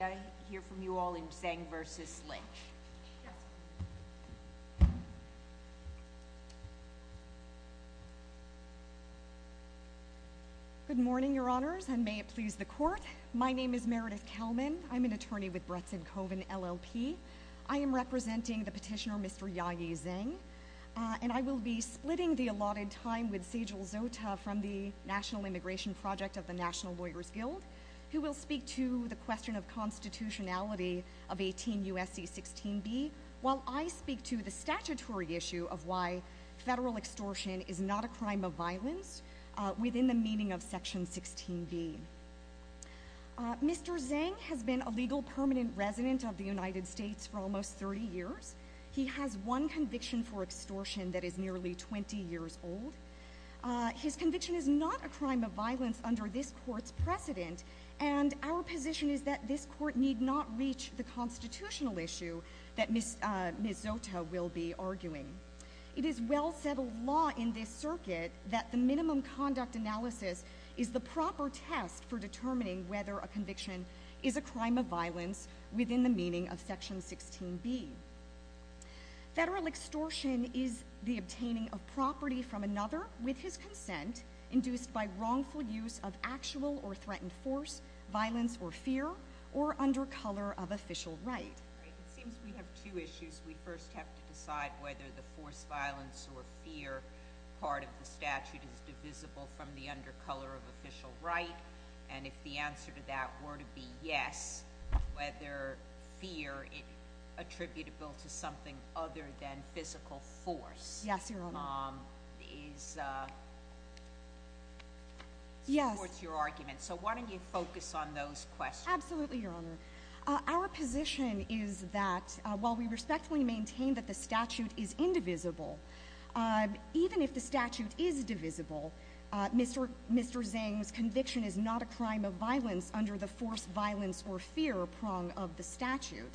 I hear from you all in Zeng v. Lynch. Good morning, your honors, and may it please the court. My name is Meredith Kelman. I'm an attorney with Bretson Cove and LLP. I am representing the petitioner, Mr. Ya-Yi Zeng, and I will be splitting the allotted time with Sejal Zota from the National Immigration Project of the National Lawyers Guild, who will speak to the question of constitutionality of 18 U.S.C. 16b, while I speak to the statutory issue of why federal extortion is not a crime of violence within the meaning of section 16b. Mr. Zeng has been a legal permanent resident of the United States for almost 30 years. He has one conviction for extortion that is nearly 20 years old. His conviction is not a crime of violence under this court's precedent, and our position is that this court need not reach the constitutional issue that Ms. Zota will be arguing. It is well-settled law in this circuit that the minimum conduct analysis is the proper test for determining whether a conviction is a crime of violence within the meaning of section 16b. Federal extortion is the obtaining of property from another with his consent induced by wrongful use of actual or threatened force, violence, or fear, or under color of official right. It seems we have two issues. We first have to decide whether the force, violence, or fear part of the statute is divisible from the under color of official right, and if the answer to that were to be yes, whether fear attributable to something other than physical force is towards your argument. So why don't you focus on those questions? Absolutely, Your Honor. Our position is that while we respectfully maintain that the statute is indivisible, even if the statute is divisible, Mr. Zhang's conviction is not a crime of violence under the force, violence, or fear prong of the statute.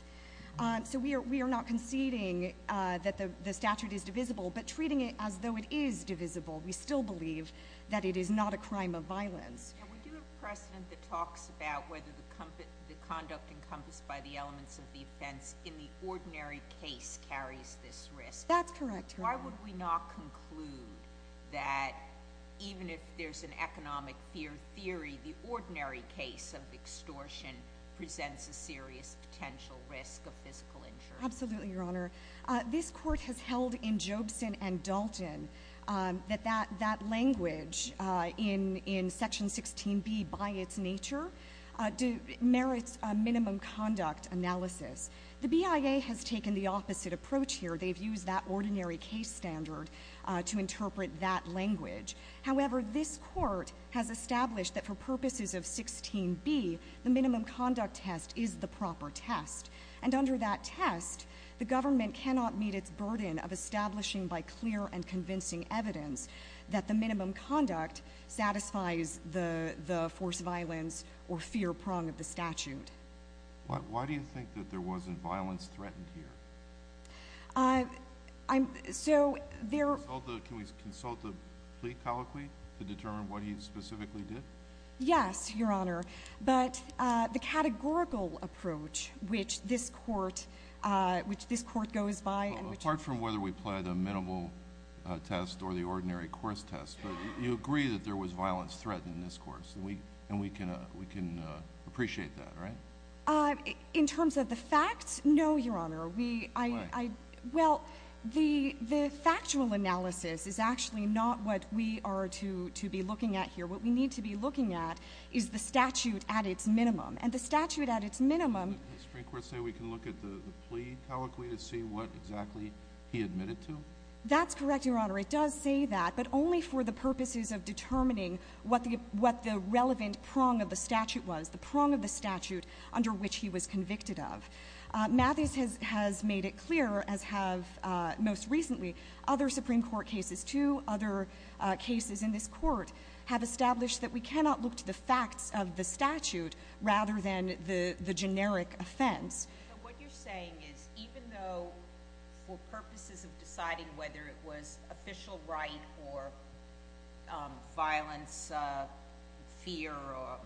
So we are not conceding that the statute is divisible, but treating it as though it is divisible, we still believe that it is not a crime of violence. And we do have precedent that talks about whether the conduct encompassed by the elements of the offense in the ordinary case carries this risk. That's correct, Your Honor. Why would we not conclude that even if there's an economic fear theory, the ordinary case of extortion presents a serious potential risk of physical injury? Absolutely, Your Honor. This court has held in Jobson and Dalton that that language in Section 16b by its nature merits a minimum conduct analysis. The BIA has taken the opposite approach here. They've used that ordinary case standard to interpret that language. However, this court has established that for purposes of 16b, the minimum conduct test is the proper test. And under that test, the government cannot meet its burden of establishing by clear and convincing evidence that the minimum conduct satisfies the force violence or fear prong of the statute. Why do you think that there wasn't violence threatened here? So there... Can we consult the plea colloquy to determine what he specifically did? Yes, Your Honor, but the categorical approach, which this court goes by and which... Apart from whether we played a minimal test or the ordinary course test, but you agree that there was violence threatened in this course, and we can appreciate that, right? In terms of the facts, no, Your Honor. We, I... Why? Well, the factual analysis is actually not what we are to be looking at here. What we need to be looking at is the statute at its minimum. And the statute at its minimum... The Supreme Court say we can look at the plea colloquy to see what exactly he admitted to? That's correct, Your Honor. It does say that, but only for the purposes of determining what the relevant prong of the statute was, the prong of the statute under which he was convicted of. Mathis has made it clear, as have, most recently, other Supreme Court cases too. Other cases in this court have established that we cannot look to the facts of the statute rather than the generic offense. But what you're saying is even though for purposes of deciding whether it was official right or violence, fear, or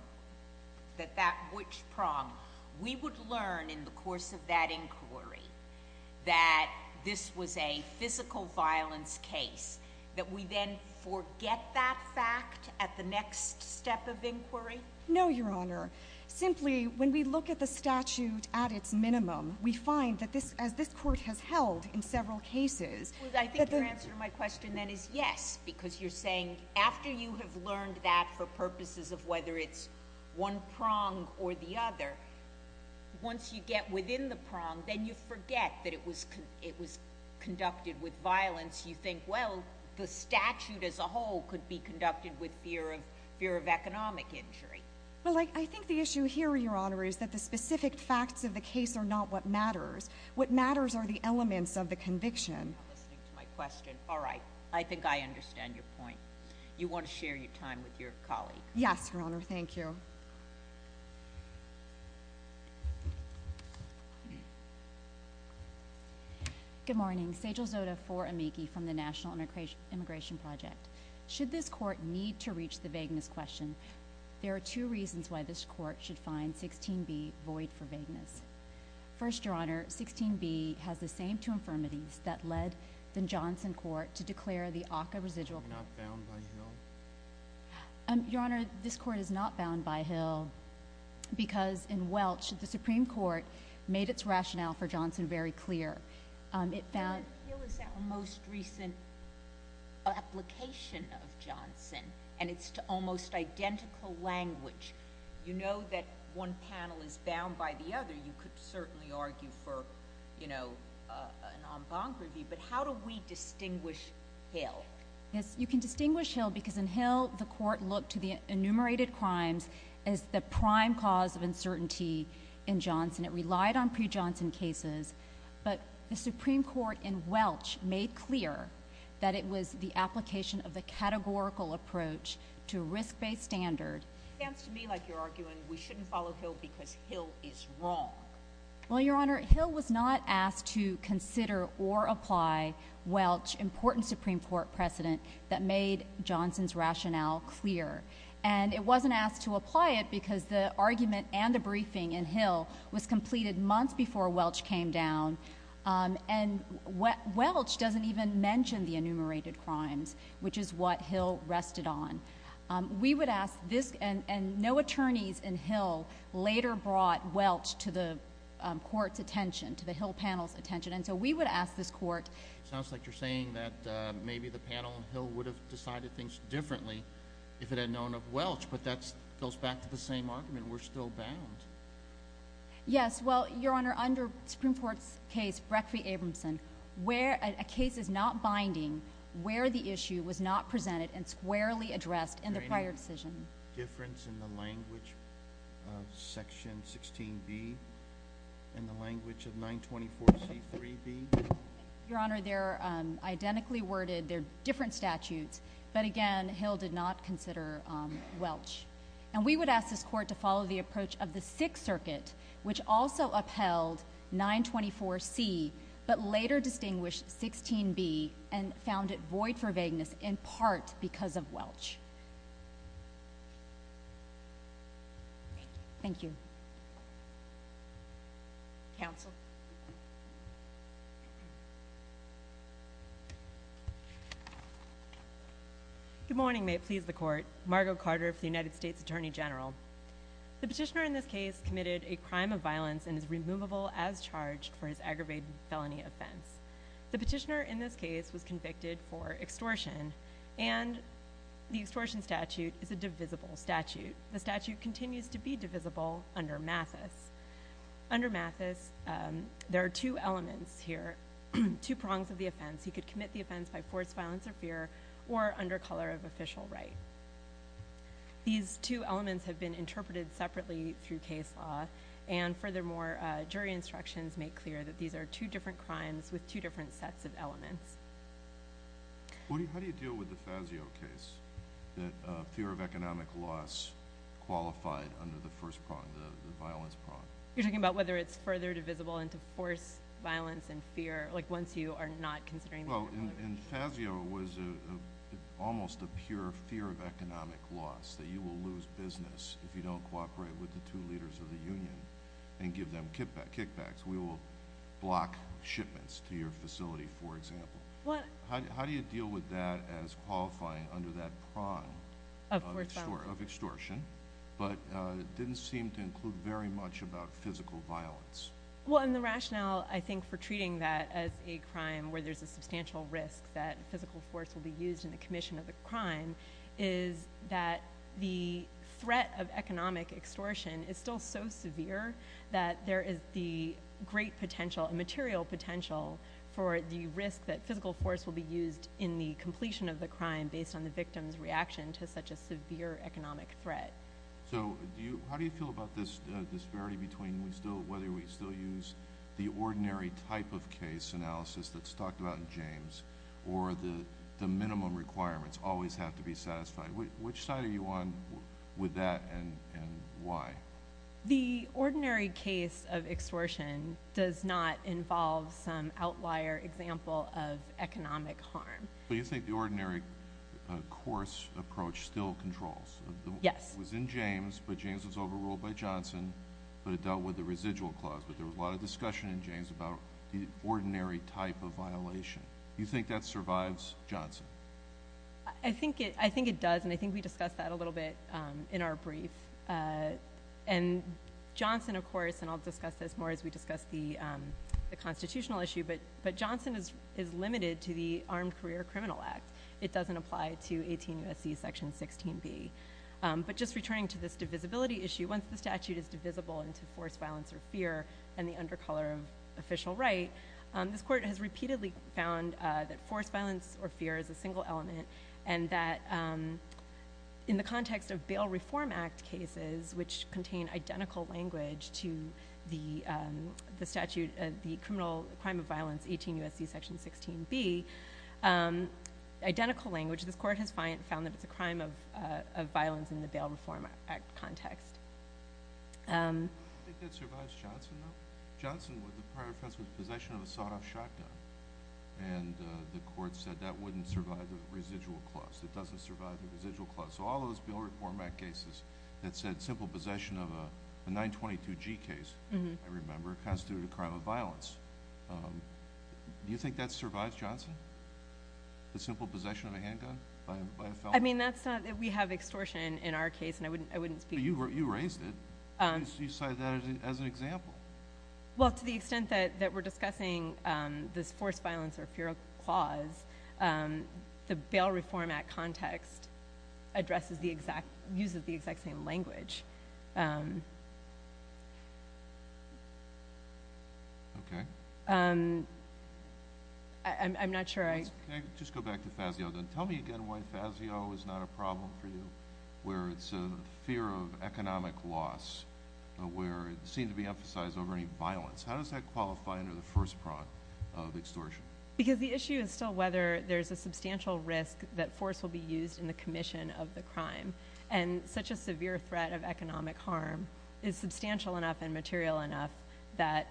that that which prong, we would learn in the course of that inquiry that this was a physical violence case, that we then forget that fact at the next step of inquiry? No, Your Honor. Simply, when we look at the statute at its minimum, we find that as this court has held in several cases... I think your answer to my question then is yes, because you're saying after you have learned that for purposes of whether it's one prong or the other, once you get within the prong, then you forget that it was conducted with violence. You think, well, the statute as a whole could be conducted with fear of economic injury. Well, I think the issue here, Your Honor, is that the specific facts of the case are not what matters. What matters are the elements of the conviction. I'm listening to my question. All right, I think I understand your point. You want to share your time with your colleague. Yes, Your Honor, thank you. Good morning. Sejal Zota, for Amici, from the National Immigration Project. Should this court need to reach the vagueness question, there are two reasons why this court should find 16b void for vagueness. First, Your Honor, 16b has the same two infirmities that led the Johnson court to declare the ACCA residual... Not bound by Hill? Your Honor, this court is not bound by Hill because in Welch, the Supreme Court made its rationale for Johnson very clear. It found... The definition of Johnson, and it's almost identical language. You know that one panel is bound by the other. You could certainly argue for an en banc review, but how do we distinguish Hill? Yes, you can distinguish Hill because in Hill, the court looked to the enumerated crimes as the prime cause of uncertainty in Johnson. It relied on pre-Johnson cases, but the Supreme Court in Welch made clear that it was the application of the categorical approach to risk-based standard. It sounds to me like you're arguing we shouldn't follow Hill because Hill is wrong. Well, Your Honor, Hill was not asked to consider or apply Welch, important Supreme Court precedent that made Johnson's rationale clear. And it wasn't asked to apply it because the argument and the briefing in Hill was completed months before Welch came down. And Welch doesn't even mention the enumerated crimes, which is what Hill rested on. We would ask this... And no attorneys in Hill later brought Welch to the court's attention, to the Hill panel's attention. And so we would ask this court... Sounds like you're saying that maybe the panel in Hill would have decided things differently if it had known of Welch, but that goes back to the same argument. We're still bound. Yes, well, Your Honor, under Supreme Court's case, Breck v. Abramson, where a case is not binding, where the issue was not presented and squarely addressed in the prior decision. Difference in the language of Section 16b and the language of 924c3b? Your Honor, they're identically worded. They're different statutes. But again, Hill did not consider Welch. And we would ask this court to follow the approach of the Sixth Circuit, which also upheld 924c, but later distinguished 16b and found it void for vagueness in part because of Welch. Thank you. Counsel. Good morning. May it please the court. Margo Carter for the United States Attorney General. The petitioner in this case committed a crime of violence and is removable as charged for his aggravated felony offense. The petitioner in this case was convicted for extortion, and the extortion statute is a divisible statute. The statute continues to be divisible under Mathis. Under Mathis, there are two elements here, two prongs of the offense. He could commit the offense by forced violence or fear or under color of official right. These two elements have been interpreted separately through case law, and furthermore, jury instructions make clear that these are two different crimes with two different sets of elements. How do you deal with the Fazio case, that fear of economic loss qualified under the first prong, the violence prong? You're talking about whether it's further divisible into forced violence and fear, like once you are not considering the violation. Well, and Fazio was almost a pure fear of economic loss, that you will lose business if you don't cooperate with the two leaders of the union and give them kickbacks. We will block shipments to your facility, for example. How do you deal with that as qualifying under that prong of extortion, but didn't seem to include very much about physical violence? Well, and the rationale, I think, for treating that as a crime where there's a substantial risk that physical force will be used in the commission of the crime, is that the threat of economic extortion is still so severe that there is the great potential, a material potential for the risk that physical force will be used in the completion of the crime based on the victim's reaction to such a severe economic threat. So how do you feel about this disparity between whether we still use the ordinary type of case analysis that's talked about in James or the minimum requirements always have to be satisfied? Which side are you on with that and why? The ordinary case of extortion does not involve some outlier example of economic harm. But you think the ordinary course approach still controls? Yes. It was in James, but James was overruled by Johnson, but there was a lot of discussion in James about the ordinary type of violation. You think that survives Johnson? I think it does, and I think we discussed that a little bit in our brief. And Johnson, of course, and I'll discuss this more as we discuss the constitutional issue, but Johnson is limited to the Armed Career Criminal Act. It doesn't apply to 18 U.S.C. section 16b. But just returning to this divisibility issue, once the statute is divisible into force, violence, or fear, and the undercolor of official right, this court has repeatedly found that force, violence, or fear is a single element, and that in the context of Bail Reform Act cases, which contain identical language to the statute, the criminal crime of violence, 18 U.S.C. section 16b, identical language, this court has found that it's a crime of violence in the Bail Reform Act context. I don't think that survives Johnson, though. Johnson, the prior offense was possession of a sawed-off shotgun, and the court said that wouldn't survive the residual clause. It doesn't survive the residual clause. So all those Bail Reform Act cases that said simple possession of a 922G case, I remember, constituted a crime of violence. Do you think that survives Johnson? The simple possession of a handgun by a felon? and I wouldn't speak to that. So you raised it. You cited that as an example. Well, to the extent that we're discussing this force, violence, or fear clause, the Bail Reform Act context addresses the exact, uses the exact same language. Okay. I'm not sure I. Just go back to Fazio, then. Tell me again why Fazio is not a problem for you, where it's a fear of economic loss, where it seemed to be emphasized over any violence. How does that qualify under the first prong of extortion? Because the issue is still whether there's a substantial risk that force will be used in the commission of the crime, and such a severe threat of economic harm is substantial enough and material enough that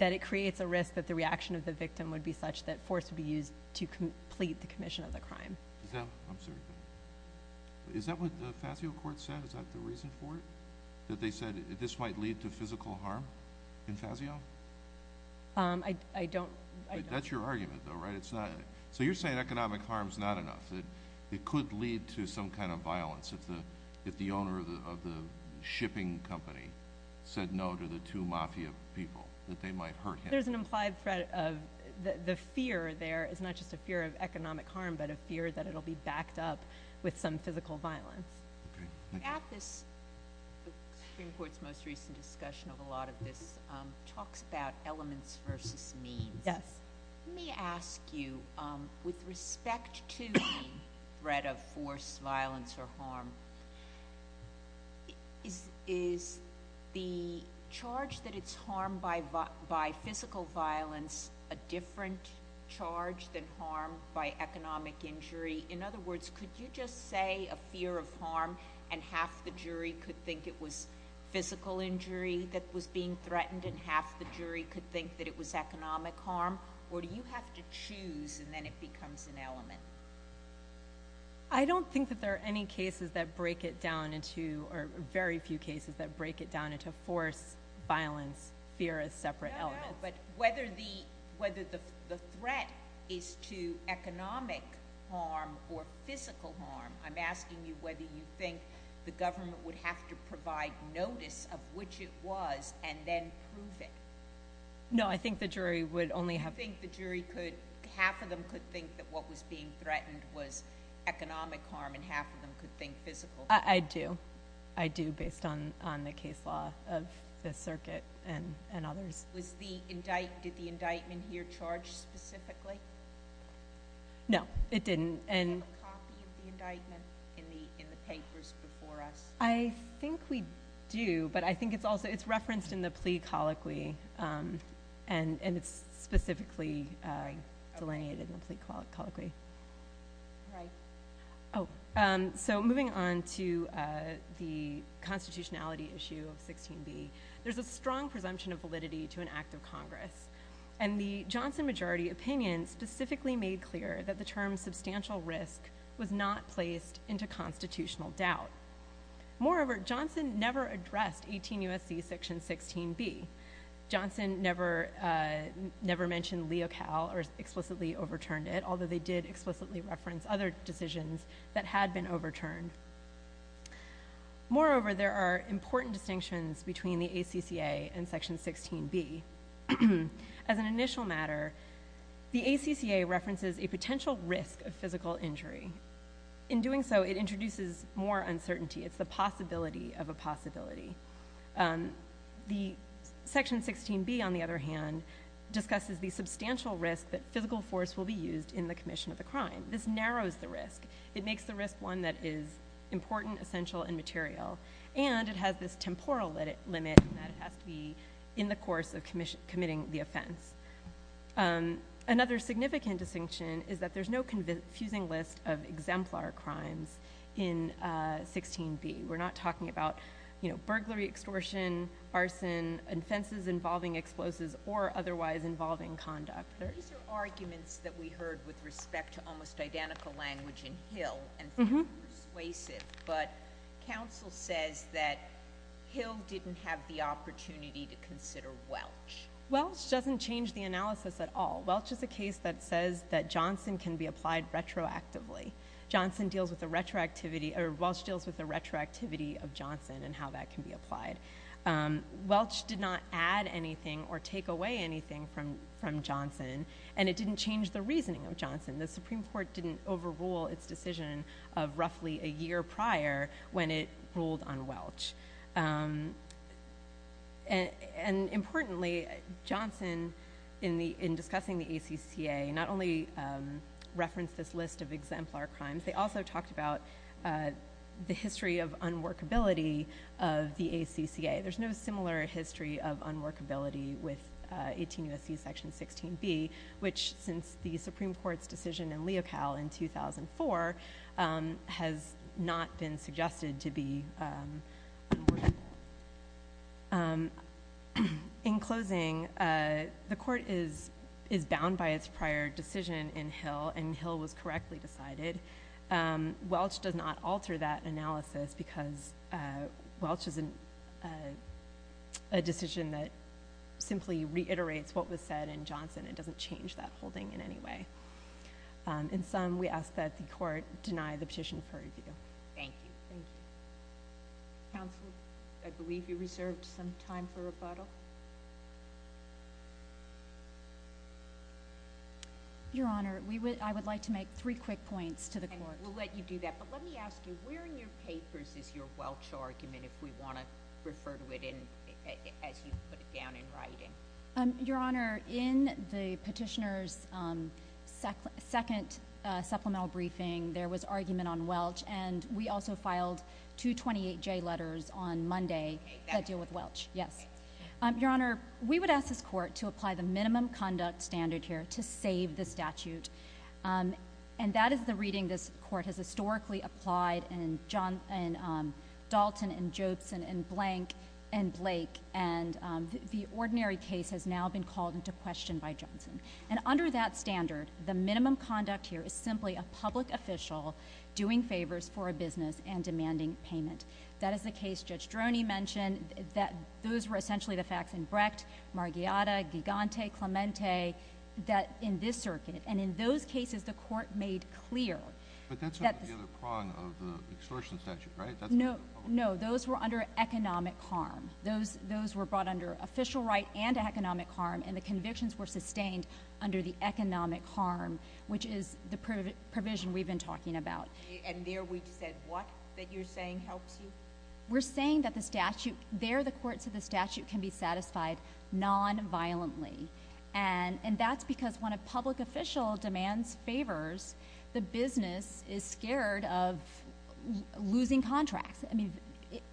it creates a risk that the reaction of the victim would be such that force would be used to complete the commission of the crime. Is that, I'm sorry. Is that what the Fazio court said? Is that the reason for it, that they said this might lead to physical harm in Fazio? I don't. That's your argument, though, right? So you're saying economic harm's not enough, that it could lead to some kind of violence if the owner of the shipping company said no to the two mafia people, that they might hurt him. There's an implied threat of, the fear there is not just a fear of economic harm, but a fear that it'll be backed up with some physical violence. At this Supreme Court's most recent discussion of a lot of this, it talks about elements versus means. Yes. Let me ask you, with respect to the threat of force, violence, or harm, is the charge that it's harmed by physical violence a different charge than harm by economic injury? In other words, could you just say a fear of harm, and half the jury could think it was physical injury that was being threatened, and half the jury could think that it was economic harm? Or do you have to choose, and then it becomes an element? I don't think that there are any cases that break it down into, or very few cases that break it down into force, violence, fear as separate elements. But whether the threat is to economic harm or physical harm, I'm asking you whether you think the government would have to provide notice of which it was, and then prove it. No, I think the jury would only have to. You think the jury could, half of them could think that what was being threatened was economic harm, and half of them could think physical harm? I do. I do, based on the case law of the circuit and others. Did the indictment here charge specifically? No, it didn't. And do you have a copy of the indictment in the papers before us? I think we do, but I think it's also, it's referenced in the plea colloquy, and it's specifically delineated in the plea colloquy. Right. Oh, so moving on to the constitutionality issue of 16b. There's a strong presumption of validity to an act of Congress, and the Johnson majority opinion specifically made clear that the term substantial risk was not placed into constitutional doubt. Moreover, Johnson never addressed 18 U.S.C. section 16b. Johnson never mentioned Leocal or explicitly overturned it, although they did explicitly reference other decisions that had been overturned. Moreover, there are important distinctions between the ACCA and section 16b. As an initial matter, the ACCA references a potential risk of physical injury. In doing so, it introduces more uncertainty. It's the possibility of a possibility. The section 16b, on the other hand, discusses the substantial risk that physical force will be used in the commission of the crime. This narrows the risk. It makes the risk one that is important, essential, and material. And it has this temporal limit in that it has to be in the course of committing the offense. Another significant distinction is that there's no fusing list of exemplar crimes in 16b. We're not talking about burglary extortion, arson, offenses involving explosives, or otherwise involving conduct. There are arguments that we heard with respect to almost identical language in Hill, and persuasive, but counsel says that Hill didn't have the opportunity to consider Welch. Welch doesn't change the analysis at all. Welch is a case that says that Johnson can be applied retroactively. Johnson deals with the retroactivity, or Welch deals with the retroactivity of Johnson and how that can be applied. Welch did not add anything or take away anything from Johnson, and it didn't change the reasoning of Johnson. The Supreme Court didn't overrule its decision of roughly a year prior when it ruled on Welch. And importantly, Johnson, in discussing the ACCA, not only referenced this list of exemplar crimes, they also talked about the history of unworkability of the ACCA. There's no similar history of unworkability with 18 U.S.C. section 16b, which, since the Supreme Court's decision in Leocal in 2004, has not been suggested to be unworkable. In closing, the court is bound by its prior decision in Hill and Hill was correctly decided. Welch does not alter that analysis because Welch is a decision that simply reiterates what was said in Johnson. It doesn't change that holding in any way. In sum, we ask that the court deny the petition for review. Thank you. Thank you. Counsel, I believe you reserved some time for rebuttal. Your Honor, I would like to make three quick points to the court. And we'll let you do that, but let me ask you, where in your papers is your Welch argument if we wanna refer to it as you put it down in writing? Your Honor, in the petitioner's second supplemental briefing there was argument on Welch and we also filed two 28J letters on Monday that deal with Welch, yes. Your Honor, we would ask this court to apply the minimum conduct standard here to save the statute. And that is the reading this court has historically applied in Dalton and Jobson and Blank and Blake and the ordinary case has now been called into question by Johnson. And under that standard, the minimum conduct here is simply a public official doing favors for a business and demanding payment. That is the case Judge Droney mentioned that those were essentially the facts in Brecht, Marghiata, Gigante, Clemente, that in this circuit. And in those cases, the court made clear. But that's not the other prong of the extortion statute, right? No, no, those were under economic harm. Those were brought under official right and economic harm and the convictions were sustained under the economic harm which is the provision we've been talking about. And there we just said what that you're saying helps you? We're saying that the statute, there the courts of the statute can be satisfied non-violently. And that's because when a public official demands favors, the business is scared of losing contracts. I mean,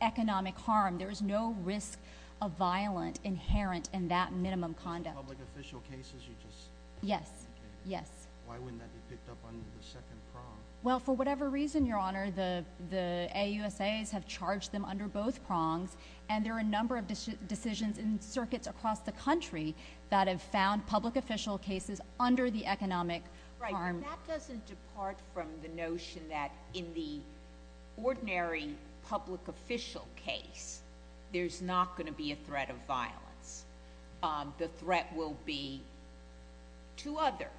economic harm. There is no risk of violent inherent in that minimum conduct. Public official cases, you just? Yes, yes. Why wouldn't that be picked up under the second prong? Well, for whatever reason, Your Honor, the AUSAs have charged them under both prongs and there are a number of decisions in circuits across the country that have found public official cases under the economic harm. Right, that doesn't depart from the notion that in the ordinary public official case, there's not gonna be a threat of violence. The threat will be to other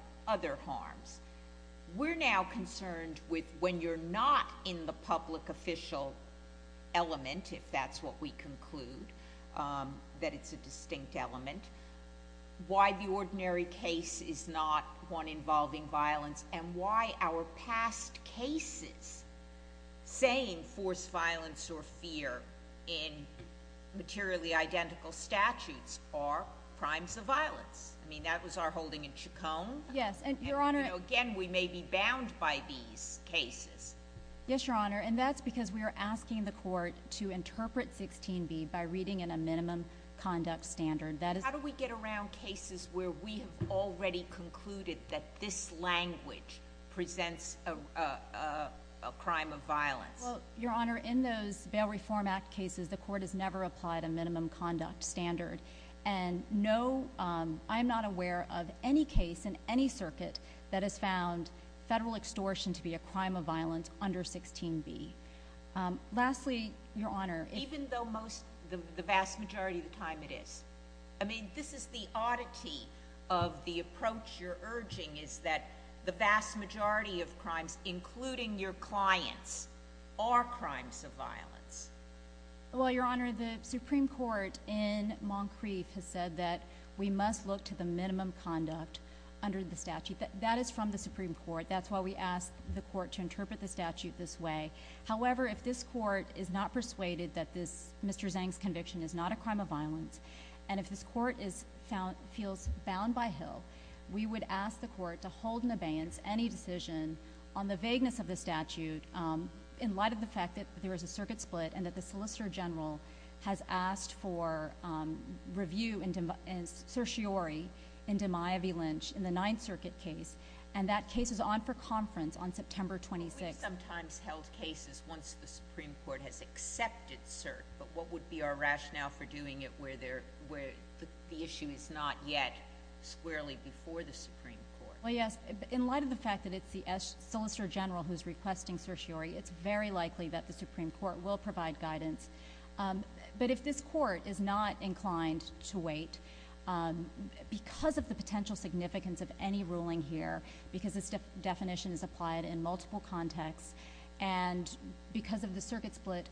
harms. We're now concerned with when you're not in the public official element, if that's what we conclude, that it's a distinct element, why the ordinary case is not one involving violence and why our past cases saying forced violence or fear in materially identical statutes are crimes of violence. I mean, that was our holding in Chaconne. Yes, and Your Honor. Again, we may be bound by these cases. Yes, Your Honor, and that's because we are asking the court to interpret 16b by reading in a minimum conduct standard. That is. How do we get around cases where we have already concluded that this language presents a crime of violence? Well, Your Honor, in those Bail Reform Act cases, the court has never applied a minimum conduct standard. And no, I'm not aware of any case in any circuit that has found federal extortion to be a crime of violence under 16b. Lastly, Your Honor. Even though most, the vast majority of the time it is. I mean, this is the oddity of the approach you're urging is that the vast majority of crimes, including your clients, are crimes of violence. Well, Your Honor, the Supreme Court in Moncrief has said that we must look to the minimum conduct under the statute. That is from the Supreme Court. That's why we asked the court to interpret the statute this way. However, if this court is not persuaded that Mr. Zhang's conviction is not a crime of violence, and if this court feels bound by Hill, we would ask the court to hold in abeyance any decision on the vagueness of the statute in light of the fact that there is a circuit split and that the Solicitor General has asked for review in certiorari in DiMaio v. Lynch in the Ninth Circuit case. And that case is on for conference on September 26th. We've sometimes held cases once the Supreme Court has accepted cert, but what would be our rationale for doing it where the issue is not yet squarely before the Supreme Court? Well, yes. In light of the fact that it's the Solicitor General who's requesting certiorari, it's very likely that the Supreme Court will provide guidance. But if this court is not inclined to wait because of the potential significance of any ruling here, because this definition is applied in multiple contexts, and because of the circuit split,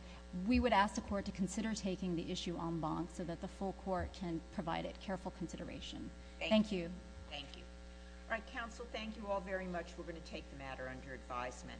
we would ask the court to consider taking the issue en banc so that the full court can provide it careful consideration. Thank you. Thank you. All right, counsel, thank you all very much. We're gonna take the matter under advisement.